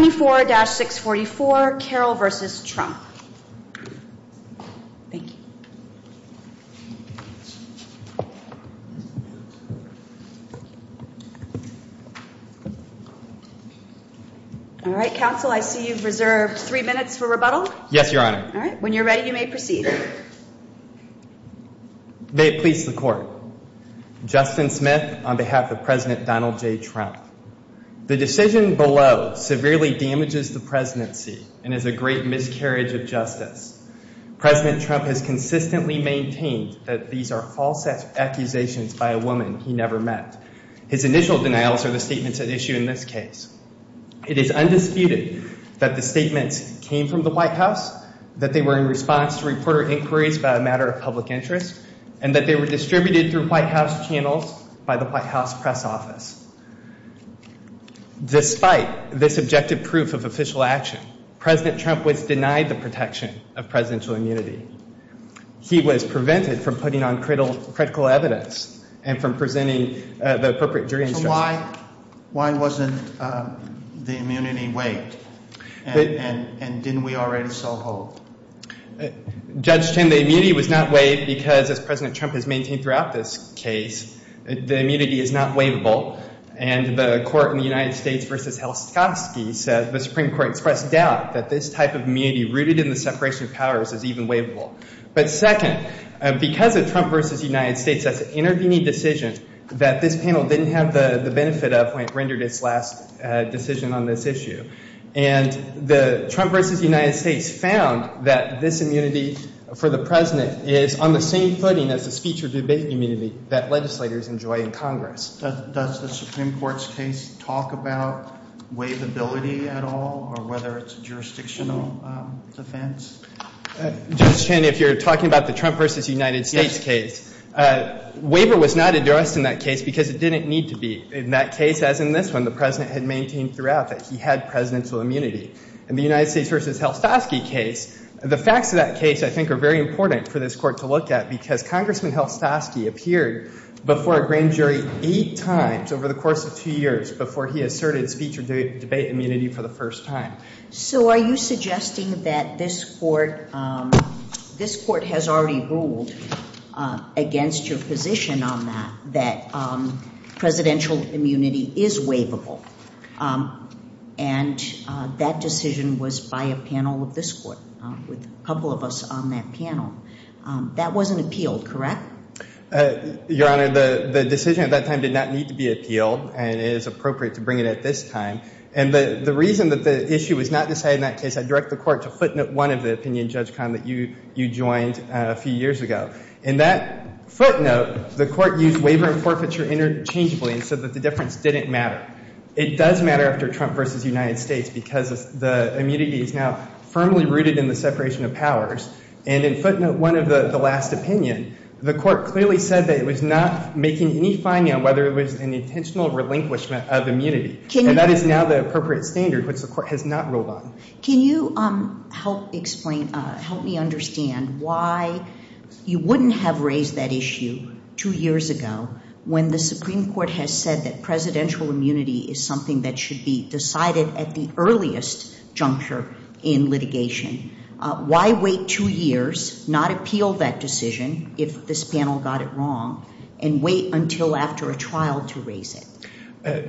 24-644, Carol v. Trump Thank you. All right, counsel, I see you've reserved three minutes for rebuttal. Yes, Your Honor. All right. When you're ready, you may proceed. May it please the Court, Justin Smith, on behalf of President Donald J. Trump, the decision below severely damages the presidency and is a great miscarriage of justice. President Trump has consistently maintained that these are false accusations by a woman he never met. His initial denials are the statements at issue in this case. It is undisputed that the statements came from the White House, that they were in response to reporter inquiries by a matter of public interest, and that they were distributed through White House channels by the White House press office. Despite this objective proof of official action, President Trump was denied the protection of presidential immunity. He was prevented from putting on critical evidence and from presenting the appropriate jury instruction. So why wasn't the immunity waived, and didn't we already saw hope? Judge Chen, the immunity was not waived because, as President Trump has maintained throughout this case, the immunity is not waivable. And the court in the United States v. Helskovsky said the Supreme Court expressed doubt that this type of immunity, rooted in the separation of powers, is even waivable. But second, because of Trump v. United States, that's an intervening decision that this panel didn't have the benefit of when it rendered its last decision on this issue. And the Trump v. United States found that this immunity for the president is on the same footing as the speech or debate immunity that legislators enjoy in Congress. Does the Supreme Court's case talk about waivability at all, or whether it's a jurisdictional defense? Judge Chen, if you're talking about the Trump v. United States case, waiver was not addressed in that case because it didn't need to be. In that case, as in this one, the president had maintained throughout that he had presidential immunity. In the United States v. Helskovsky case, the facts of that case, I think, are very important for this Court to look at because Congressman Helskovsky appeared before a grand jury eight times over the course of two years before he asserted speech or debate immunity for the first time. So, are you suggesting that this Court has already ruled against your position on that, that presidential immunity is waivable? And that decision was by a panel of this Court, with a couple of us on that panel. That wasn't appealed, correct? Your Honor, the decision at that time did not need to be appealed, and it is appropriate to bring it at this time. And the reason that the issue was not decided in that case, I direct the Court to footnote one of the opinion, Judge Cahn, that you joined a few years ago. In that footnote, the Court used waiver and forfeiture interchangeably and said that the difference didn't matter. It does matter after Trump v. United States because the immunity is now firmly rooted in the separation of powers. And in footnote one of the last opinion, the Court clearly said that it was not making any finding on whether it was an intentional relinquishment of immunity. And that is now the appropriate standard, which the Court has not ruled on. Can you help explain, help me understand why you wouldn't have raised that issue two years ago when the Supreme Court has said that presidential immunity is something that should be decided at the earliest juncture in litigation? Why wait two years, not appeal that decision if this panel got it wrong, and wait until after a trial to raise it?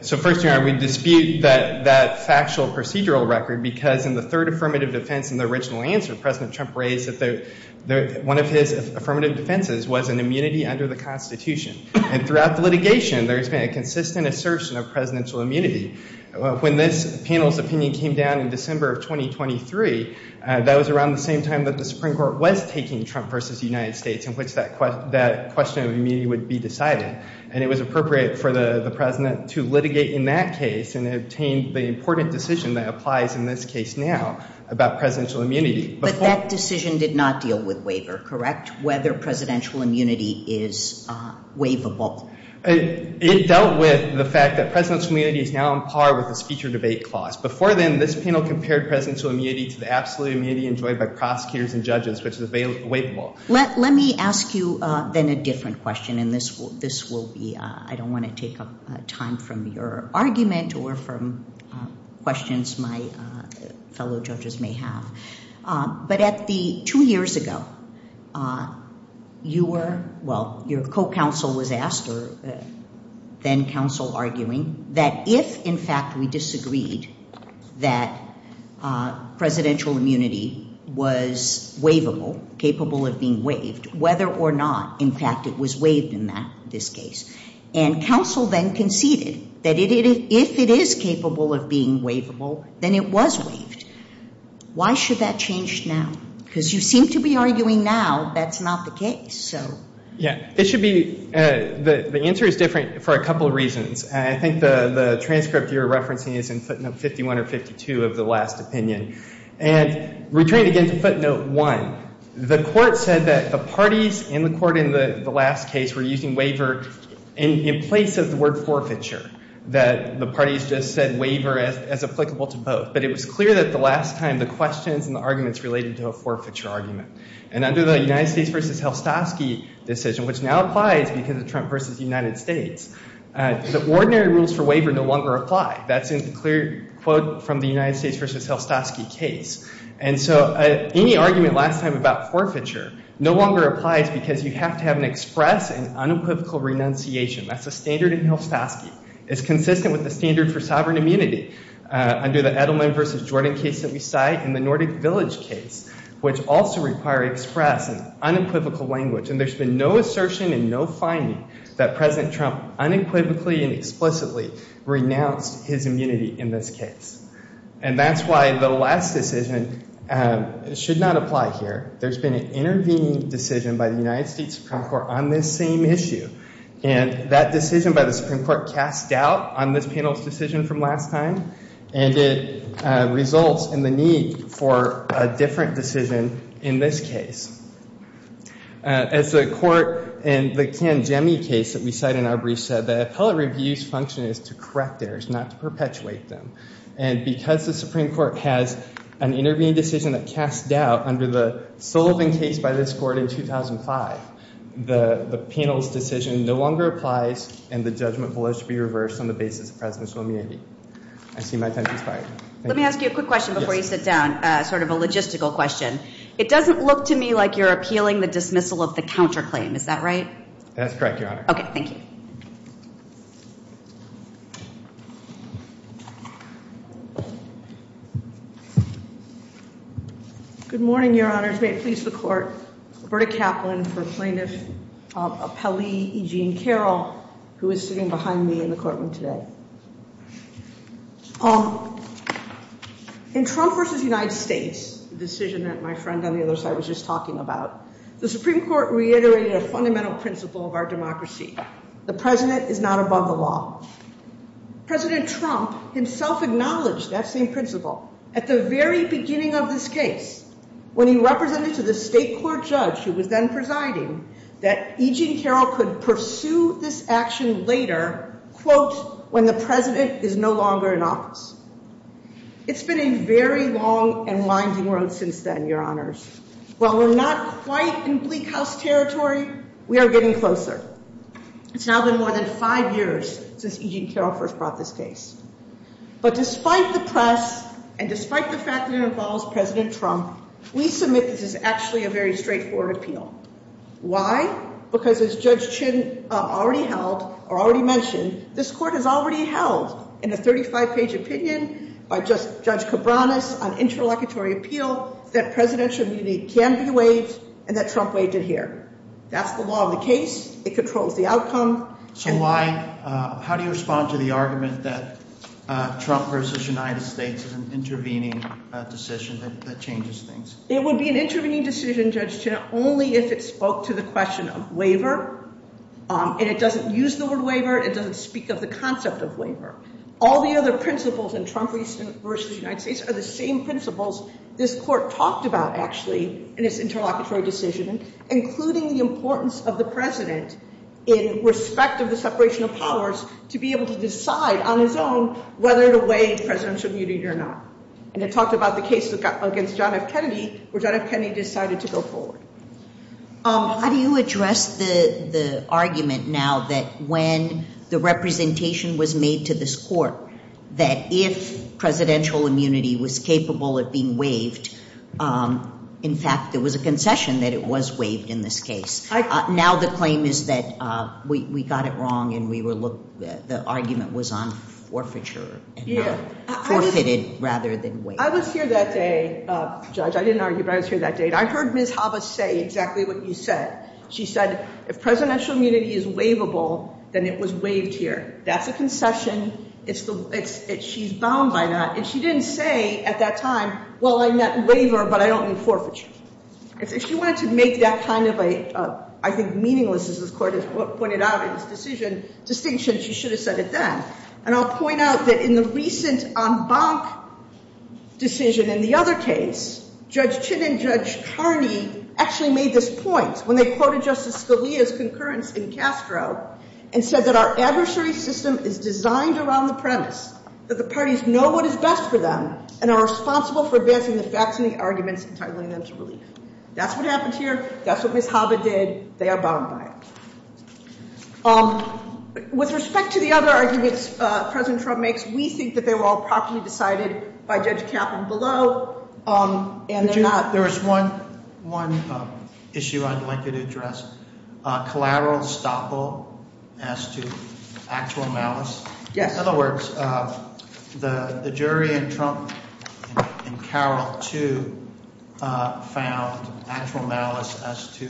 So first, Your Honor, we dispute that factual procedural record because in the third affirmative defense in the original answer, President Trump raised that one of his affirmative defenses was an immunity under the Constitution. And throughout the litigation, there's been a consistent assertion of presidential immunity. When this panel's opinion came down in December of 2023, that was around the same time that the Supreme Court was taking Trump v. United States in which that question of immunity would be decided. And it was appropriate for the President to litigate in that case and obtain the important decision that applies in this case now about presidential immunity. But that decision did not deal with waiver, correct? Whether presidential immunity is waivable? It dealt with the fact that presidential immunity is now on par with the speech or debate clause. Before then, this panel compared presidential immunity to the absolute immunity enjoyed by prosecutors and judges, which is waivable. Let me ask you then a different question, and this will be, I don't want to take up time from your argument or from questions my fellow judges may have. But at the two years ago, you were, well, your co-counsel was asked or then counsel arguing that if, in fact, we disagreed that presidential immunity was waivable, capable of being waived, whether or not, in fact, it was waived in this case. And counsel then conceded that if it is capable of being waivable, then it was waived. Why should that change now? Because you seem to be arguing now that's not the case, so. Yeah. It should be, the answer is different for a couple of reasons. And I think the transcript you're referencing is in footnote 51 or 52 of the last opinion. And returning again to footnote one, the Court said that the parties in the Court in the last case were using waiver in place of the word forfeiture, that the parties just said waiver as applicable to both. But it was clear that the last time the questions and the arguments related to a forfeiture argument. And under the United States versus Helstosky decision, which now applies because of Trump versus the United States, the ordinary rules for waiver no longer apply. That's in the clear quote from the United States versus Helstosky case. And so any argument last time about forfeiture no longer applies because you have to have an express and unequivocal renunciation. That's a standard in Helstosky. It's consistent with the standard for sovereign immunity under the Edelman versus Jordan case that we cite and the Nordic Village case, which also require express and unequivocal language. And there's been no assertion and no finding that President Trump unequivocally and explicitly renounced his immunity in this case. And that's why the last decision should not apply here. There's been an intervening decision by the United States Supreme Court on this same issue. And that decision by the Supreme Court cast doubt on this panel's decision from last time. And it results in the need for a different decision in this case. As the court in the Kanjemi case that we cite in our brief said, the appellate review's function is to correct errors, not to perpetuate them. And because the Supreme Court has an intervening decision that cast doubt under the Sullivan case by this court in 2005, the panel's decision no longer applies and the judgment will be reversed on the basis of presidential immunity. I see my time expired. Let me ask you a quick question before you sit down, sort of a logistical question. It doesn't look to me like you're appealing the dismissal of the counterclaim. Is that right? That's correct, Your Honor. Okay, thank you. Good morning, Your Honors. May it please the court. Roberta Kaplan for plaintiff, appellee E. Jean Carroll, who is sitting behind me in the courtroom today. In Trump versus United States, the decision that my friend on the other side was just talking about, the Supreme Court reiterated a fundamental principle of our democracy. The president is not above the law. President Trump himself acknowledged that same principle at the very beginning of this case when he represented to the state court judge who was then presiding that E. Jean Carroll could pursue this action later, quote, when the president is no longer in office. It's been a very long and winding road since then, Your Honors. While we're not quite in bleak house territory, we are getting closer. It's now been more than five years since E. Jean Carroll first brought this case. But despite the press and despite the fact that it involves President Trump, we submit this is actually a very straightforward appeal. Why? Because as Judge Chin already mentioned, this court has already held in a 35-page opinion by Judge Cabranes on interlocutory appeal that presidential immunity can be waived and that Trump waived it here. That's the law of the case. It controls the outcome. So why? How do you respond to the argument that Trump versus United States is an intervening decision that changes things? It would be an intervening decision, Judge Chin, only if it spoke to the question of waiver and it doesn't use the word waiver. It doesn't speak of the concept of waiver. All the other principles in Trump versus United States are the same principles this court talked about, actually, in its interlocutory decision, including the importance of the president in respect of the separation of powers to be able to decide on his own whether to waive presidential immunity or not. And it talked about the case against John F. Kennedy where John F. Kennedy decided to go forward. How do you address the argument now that when the representation was made to this court that if presidential immunity was capable of being waived, in fact, there was a concession that it was waived in this case? Now the claim is that we got it wrong and the argument was on forfeiture and not forfeited rather than waived. I was here that day, Judge. I didn't argue, but I was here that day. And I heard Ms. Hava say exactly what you said. She said, if presidential immunity is waivable, then it was waived here. That's a concession. It's the way she's bound by that. And she didn't say at that time, well, I met waiver, but I don't need forfeiture. If she wanted to make that kind of a, I think, meaningless, as this court has pointed out in its decision distinction, she should have said it then. And I'll point out that in the recent en banc decision in the other case, Judge Chin and Judge Carney actually made this point when they quoted Justice Scalia's concurrence in Castro and said that our adversary system is designed around the premise that the parties know what is best for them and are responsible for advancing the facts and the arguments and titling them to relief. That's what happened here. That's what Ms. Hava did. They are bound by it. With respect to the other arguments President Trump makes, we think that they were all properly decided by Judge Kaplan below and they're not. There's one issue I'd like you to address, collateral estoppel as to actual malice. Yes. In other words, the jury in Trump and Carroll too found actual malice as to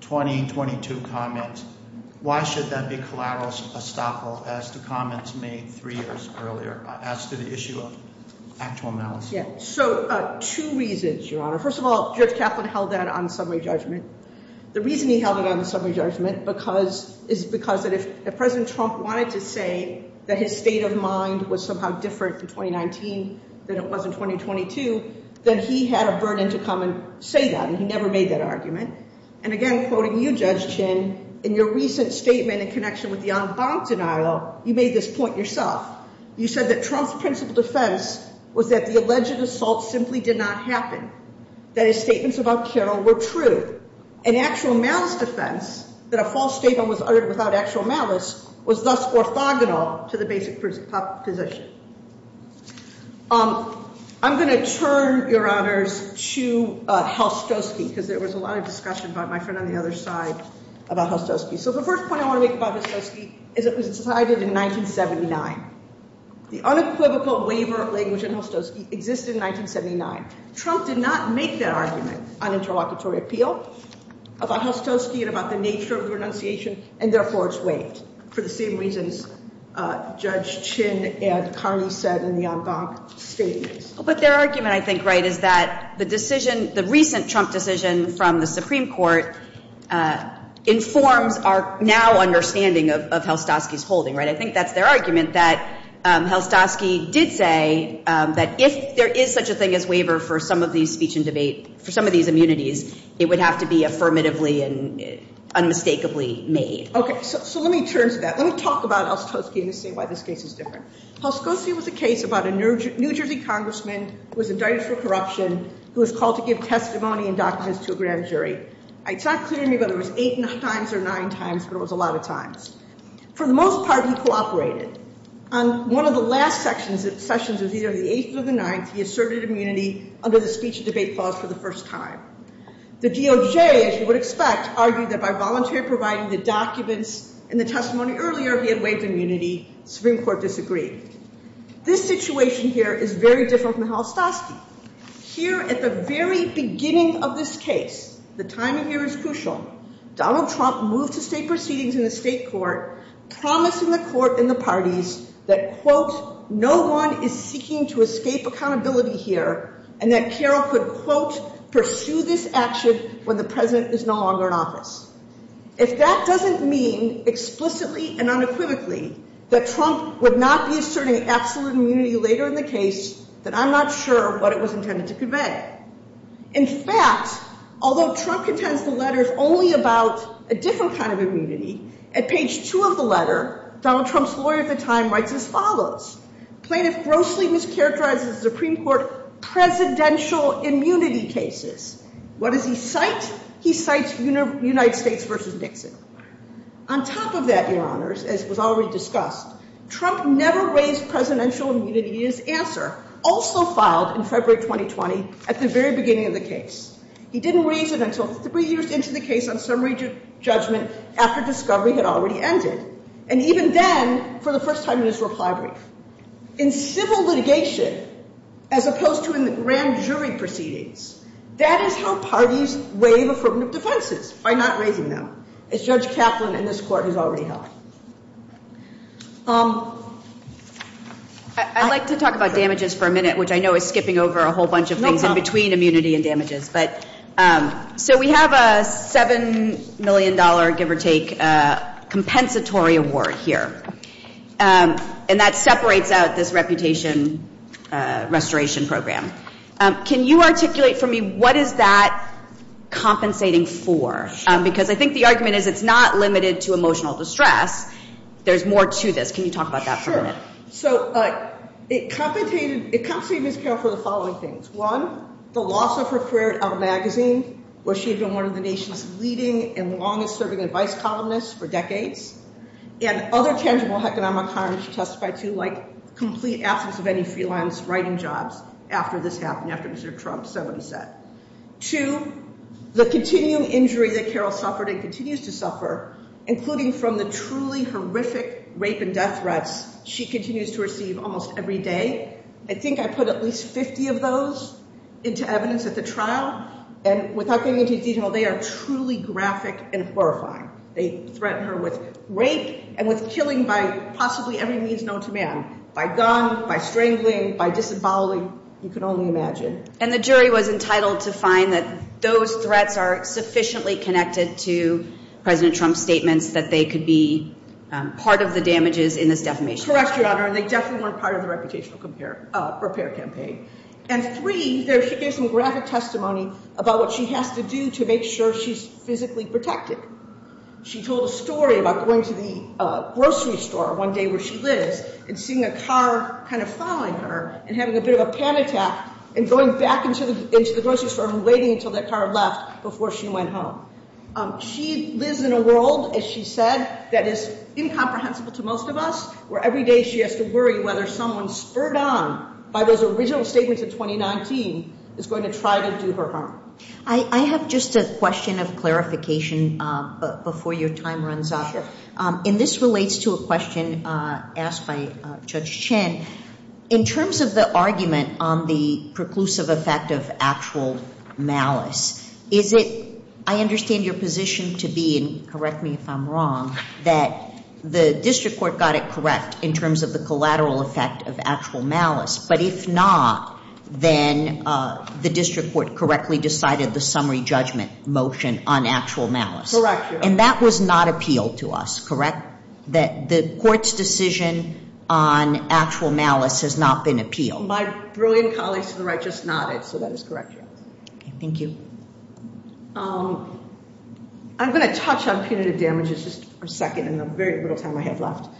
2022 comments. Why should that be collateral estoppel as to comments made three years earlier as to the issue of actual malice? So two reasons, Your Honor. First of all, Judge Kaplan held that on summary judgment. The reason he held it on the summary judgment is because if President Trump wanted to say that his state of mind was somehow different in 2019 than it was in 2022, then he had a burden to come and say that. And he never made that argument. And again, quoting you, Judge Chin, in your recent statement in connection with the en banc denial, you made this point yourself. You said that Trump's principal defense was that the alleged assault simply did not happen, that his statements about Carroll were true. An actual malice defense, that a false statement was uttered without actual malice, was thus orthogonal to the basic position. I'm going to turn, Your Honors, to Hostoski because there was a lot of discussion by my friend on the other side about Hostoski. So the first point I want to make about Hostoski is it was decided in 1979. The unequivocal waiver of language in Hostoski existed in 1979. Trump did not make that argument on interlocutory appeal about Hostoski and about the nature of renunciation, and therefore it's waived for the same reasons Judge Chin and Carney said in the en banc statements. But their argument, I think, right, is that the decision, the recent Trump decision from the Supreme Court informs our now understanding of Hostoski's holding, right? I think that's their argument, that Hostoski did say that if there is such a thing as waiver for some of these speech and debate, for some of these immunities, it would have to be affirmatively and unmistakably made. Okay. So let me turn to that. Let me talk about Hostoski and say why this case is different. Hostoski was a case about a New Jersey congressman who was indicted for corruption, who was called to give testimony and documents to a grand jury. It's not clear to me whether it was eight times or nine times, but it was a lot of times. For the most part, he cooperated. On one of the last sessions of either the 8th or the 9th, he asserted immunity under the speech and debate clause for the first time. The DOJ, as you would expect, argued that by voluntary providing the documents and the testimony earlier, he had waived immunity. Supreme Court disagreed. This situation here is very different from the Hostoski. Here at the very beginning of this case, the timing here is crucial. Donald Trump moved to state proceedings in the state court, promising the court and the parties that, quote, no one is seeking to escape accountability here and that Carroll could, quote, pursue this action when the president is no longer in office. If that doesn't mean explicitly and unequivocally that Trump would not be asserting absolute immunity later in the case, then I'm not sure what it was intended to convey. In fact, although Trump contends the letter is only about a different kind of immunity, at page two of the letter, Donald Trump's lawyer at the time writes as follows. Plaintiff grossly mischaracterizes the Supreme Court presidential immunity cases. What does he cite? He cites United States versus Nixon. On top of that, your honors, as was already discussed, Trump never raised presidential immunity in his answer, also filed in February 2020 at the very beginning of the case. He didn't raise it until three years into the case on summary judgment after discovery had already ended. And even then, for the first time in his reply brief, in civil litigation, as opposed to in the grand jury proceedings, that is how parties waive affirmative defenses, by not raising them, as Judge Kaplan in this court has already held. I'd like to talk about damages for a minute, which I know is skipping over a whole bunch of things in between immunity and damages. But so we have a $7 million, give or take, compensatory award here. And that separates out this reputation restoration program. Can you articulate for me what is that compensating for? Because I think the argument is it's not limited to emotional distress. There's more to this. Can you talk about that for a minute? So it compensated Ms. Carroll for the following things. One, the loss of her career at Elle Magazine, where she had been one of the nation's leading and longest-serving advice columnists for decades, and other tangible economic harms she testified to, like complete absence of any freelance writing jobs after this happened, after Mr. Trump said what he said. Two, the continuing injury that Carroll suffered and continues to suffer, including from the horrific rape and death threats she continues to receive almost every day. I think I put at least 50 of those into evidence at the trial. And without getting into detail, they are truly graphic and horrifying. They threaten her with rape and with killing by possibly every means known to man, by gun, by strangling, by disemboweling. You can only imagine. And the jury was entitled to find that those threats are sufficiently connected to President Trump's statements that they could be part of the damages in this defamation. Correct, Your Honor. They definitely weren't part of the reputational repair campaign. And three, there's some graphic testimony about what she has to do to make sure she's physically protected. She told a story about going to the grocery store one day where she lives and seeing a car kind of following her and having a bit of a panic attack and going back into the grocery store and waiting until that car left before she went home. She lives in a world, as she said, that is incomprehensible to most of us, where every day she has to worry whether someone spurred on by those original statements of 2019 is going to try to do her harm. I have just a question of clarification before your time runs up. And this relates to a question asked by Judge Chen. In terms of the argument on the preclusive effect of actual malice, is it, I understand your position to be, and correct me if I'm wrong, that the district court got it correct in terms of the collateral effect of actual malice? But if not, then the district court correctly decided the summary judgment motion on actual malice? Correct, Your Honor. And that was not appealed to us, correct? The court's decision on actual malice has not been appealed? My brilliant colleagues to the right just nodded, so that is correct, Your Honor. Okay, thank you. I'm going to touch on punitive damages just for a second in the very little time I have left.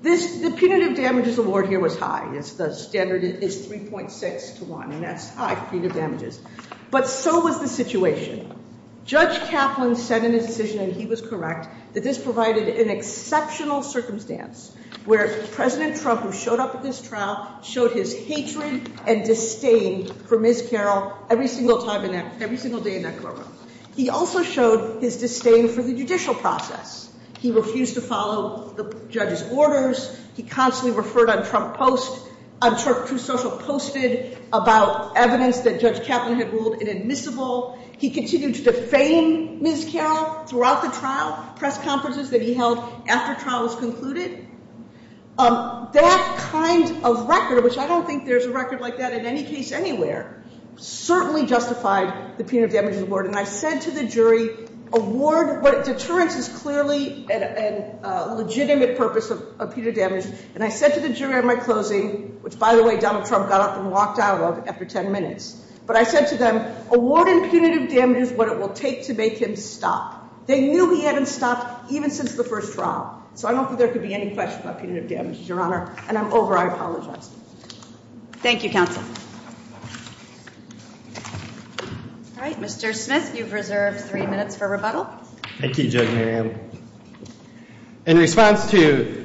The punitive damages award here was high. The standard is 3.6 to 1, and that's high punitive damages. But so was the situation. Judge Kaplan said in his decision, and he was correct, that this provided an exceptional circumstance where President Trump, who showed up at this trial, showed his hatred and disdain for Ms. Carroll every single day in that courtroom. He also showed his disdain for the judicial process. He refused to follow the judge's orders. He constantly referred on True Social Posted about evidence that Judge Kaplan had ruled inadmissible. He continued to defame Ms. Carroll throughout the trial, press conferences that he held after trial was concluded. That kind of record, which I don't think there's a record like that in any case anywhere, certainly justified the punitive damages award. I said to the jury, award, but deterrence is clearly a legitimate purpose of punitive damages, and I said to the jury at my closing, which by the way, Donald Trump got up and walked out of after 10 minutes, but I said to them, awarding punitive damages what it will take to make him stop. They knew he hadn't stopped even since the first trial. So I don't think there could be any question about punitive damages, Your Honor, and I'm over. I apologize. Thank you, counsel. All right, Mr. Smith, you've reserved three minutes for rebuttal. Thank you, Judge Miriam. In response to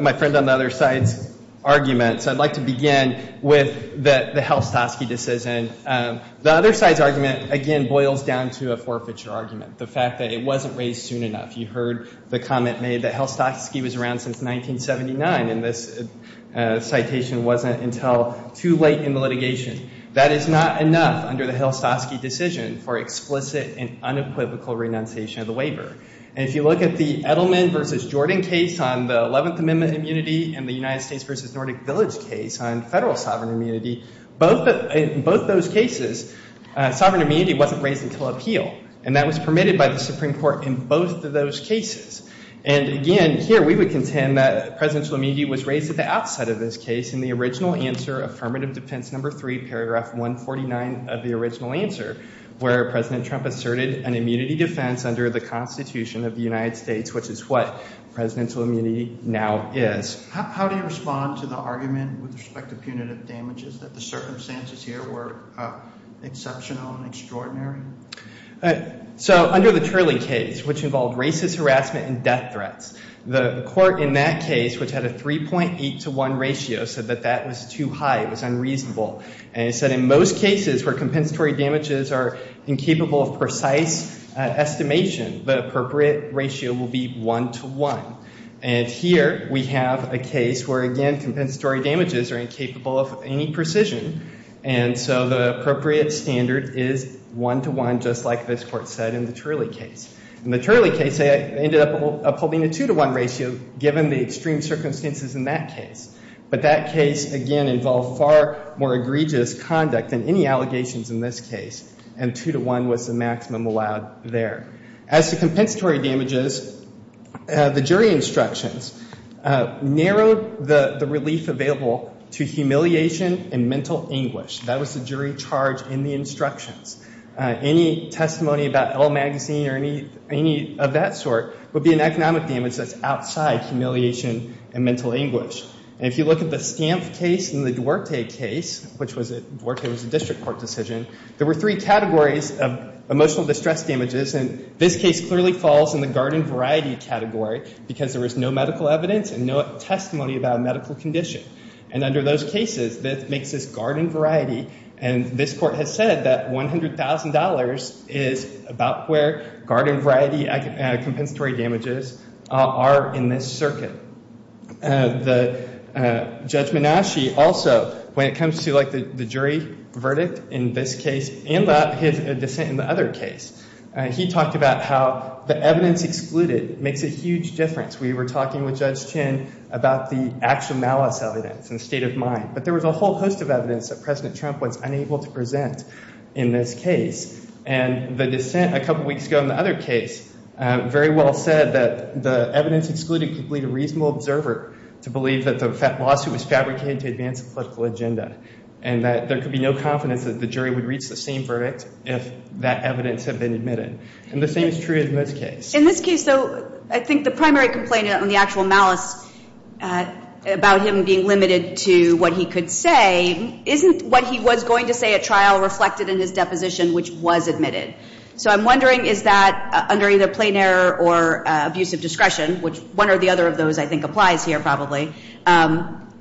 my friend on the other side's argument, I'd like to begin with the Helstosky decision. The other side's argument, again, boils down to a forfeiture argument, the fact that it wasn't raised soon enough. You heard the comment made that Helstosky was around since 1979, and this citation wasn't until too late in the litigation. That is not enough under the Helstosky decision for explicit and unequivocal renunciation of the waiver. And if you look at the Edelman v. Jordan case on the Eleventh Amendment immunity and the United States v. Nordic Village case on federal sovereign immunity, in both those cases, sovereign immunity wasn't raised until appeal, and that was permitted by the Supreme Court in both of those cases. And again, here we would contend that presidential immunity was raised at the outside of this case in the original answer, affirmative defense number three, paragraph 149 of the original answer, where President Trump asserted an immunity defense under the Constitution of the United States, which is what presidential immunity now is. How do you respond to the argument with respect to punitive damages, that the circumstances here were exceptional and extraordinary? So under the Turley case, which involved racist harassment and death threats, the court in that case, which had a 3.8 to 1 ratio, said that that was too high. It was unreasonable. And it said in most cases where compensatory damages are incapable of precise estimation, the appropriate ratio will be 1 to 1. And here we have a case where, again, compensatory damages are incapable of any precision. And so the appropriate standard is 1 to 1, just like this court said in the Turley case. In the Turley case, they ended up upholding a 2 to 1 ratio, given the extreme circumstances in that case. But that case, again, involved far more egregious conduct than any allegations in this case. And 2 to 1 was the maximum allowed there. As to compensatory damages, the jury instructions narrowed the relief available to humiliation and mental anguish. That was the jury charge in the instructions. Any testimony about Elle Magazine or any of that sort would be an economic damage that's outside humiliation and mental anguish. And if you look at the Stamp case and the Duarte case, which was a district court decision, there were three categories of emotional distress damages. And this case clearly falls in the garden variety category, because there was no medical evidence and no testimony about a medical condition. And under those cases, this makes this garden variety. And this court has said that $100,000 is about where garden variety compensatory damages are in this circuit. The Judge Menasche also, when it comes to the jury verdict in this case and his dissent in the other case, he talked about how the evidence excluded makes a huge difference. We were talking with Judge Chin about the actual malice evidence and state of mind. But there was a whole host of evidence that President Trump was unable to present in this case. And the dissent a couple weeks ago in the other case very well said that the evidence excluded could lead a reasonable observer to believe that the lawsuit was fabricated to advance a political agenda, and that there could be no confidence that the jury would reach the same verdict if that evidence had been admitted. And the same is true in this case. In this case, though, I think the primary complaint on the actual malice about him being limited to what he could say isn't what he was going to say at trial reflected in his deposition, which was admitted. So I'm wondering, is that under either plain error or abusive discretion, which one or the other of those I think applies here probably,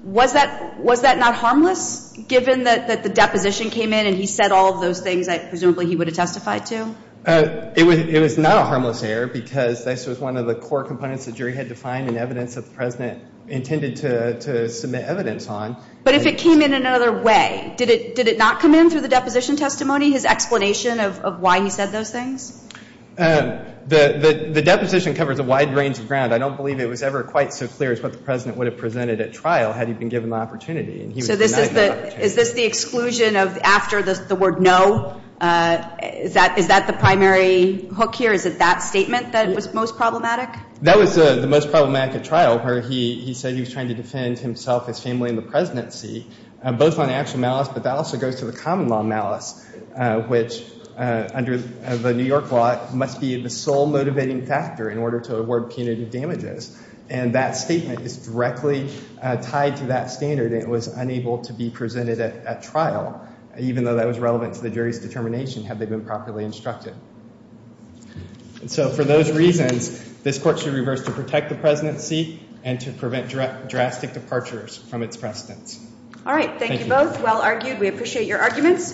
was that not harmless, given that the deposition came in and he said all of those things that presumably he would have testified to? It was not a harmless error, because this was one of the core components the jury had to find in evidence that the President intended to submit evidence on. But if it came in another way, did it not come in through the deposition testimony, his explanation of why he said those things? The deposition covers a wide range of ground. I don't believe it was ever quite so clear as what the President would have presented at trial had he been given the opportunity, and he was denied the opportunity. So is this the exclusion after the word no? Is that the primary hook here? Is it that statement that was most problematic? That was the most problematic at trial, where he said he was trying to defend himself, his family, and the presidency, both on actual malice, but that also goes to the common law malice, which under the New York law must be the sole motivating factor in order to award punitive damages. And that statement is directly tied to that standard. It was unable to be presented at trial, even though that was relevant to the jury's determination, had they been properly instructed. And so for those reasons, this Court should reverse to protect the presidency and to prevent drastic departures from its precedence. All right. Thank you both. Well argued. We appreciate your arguments.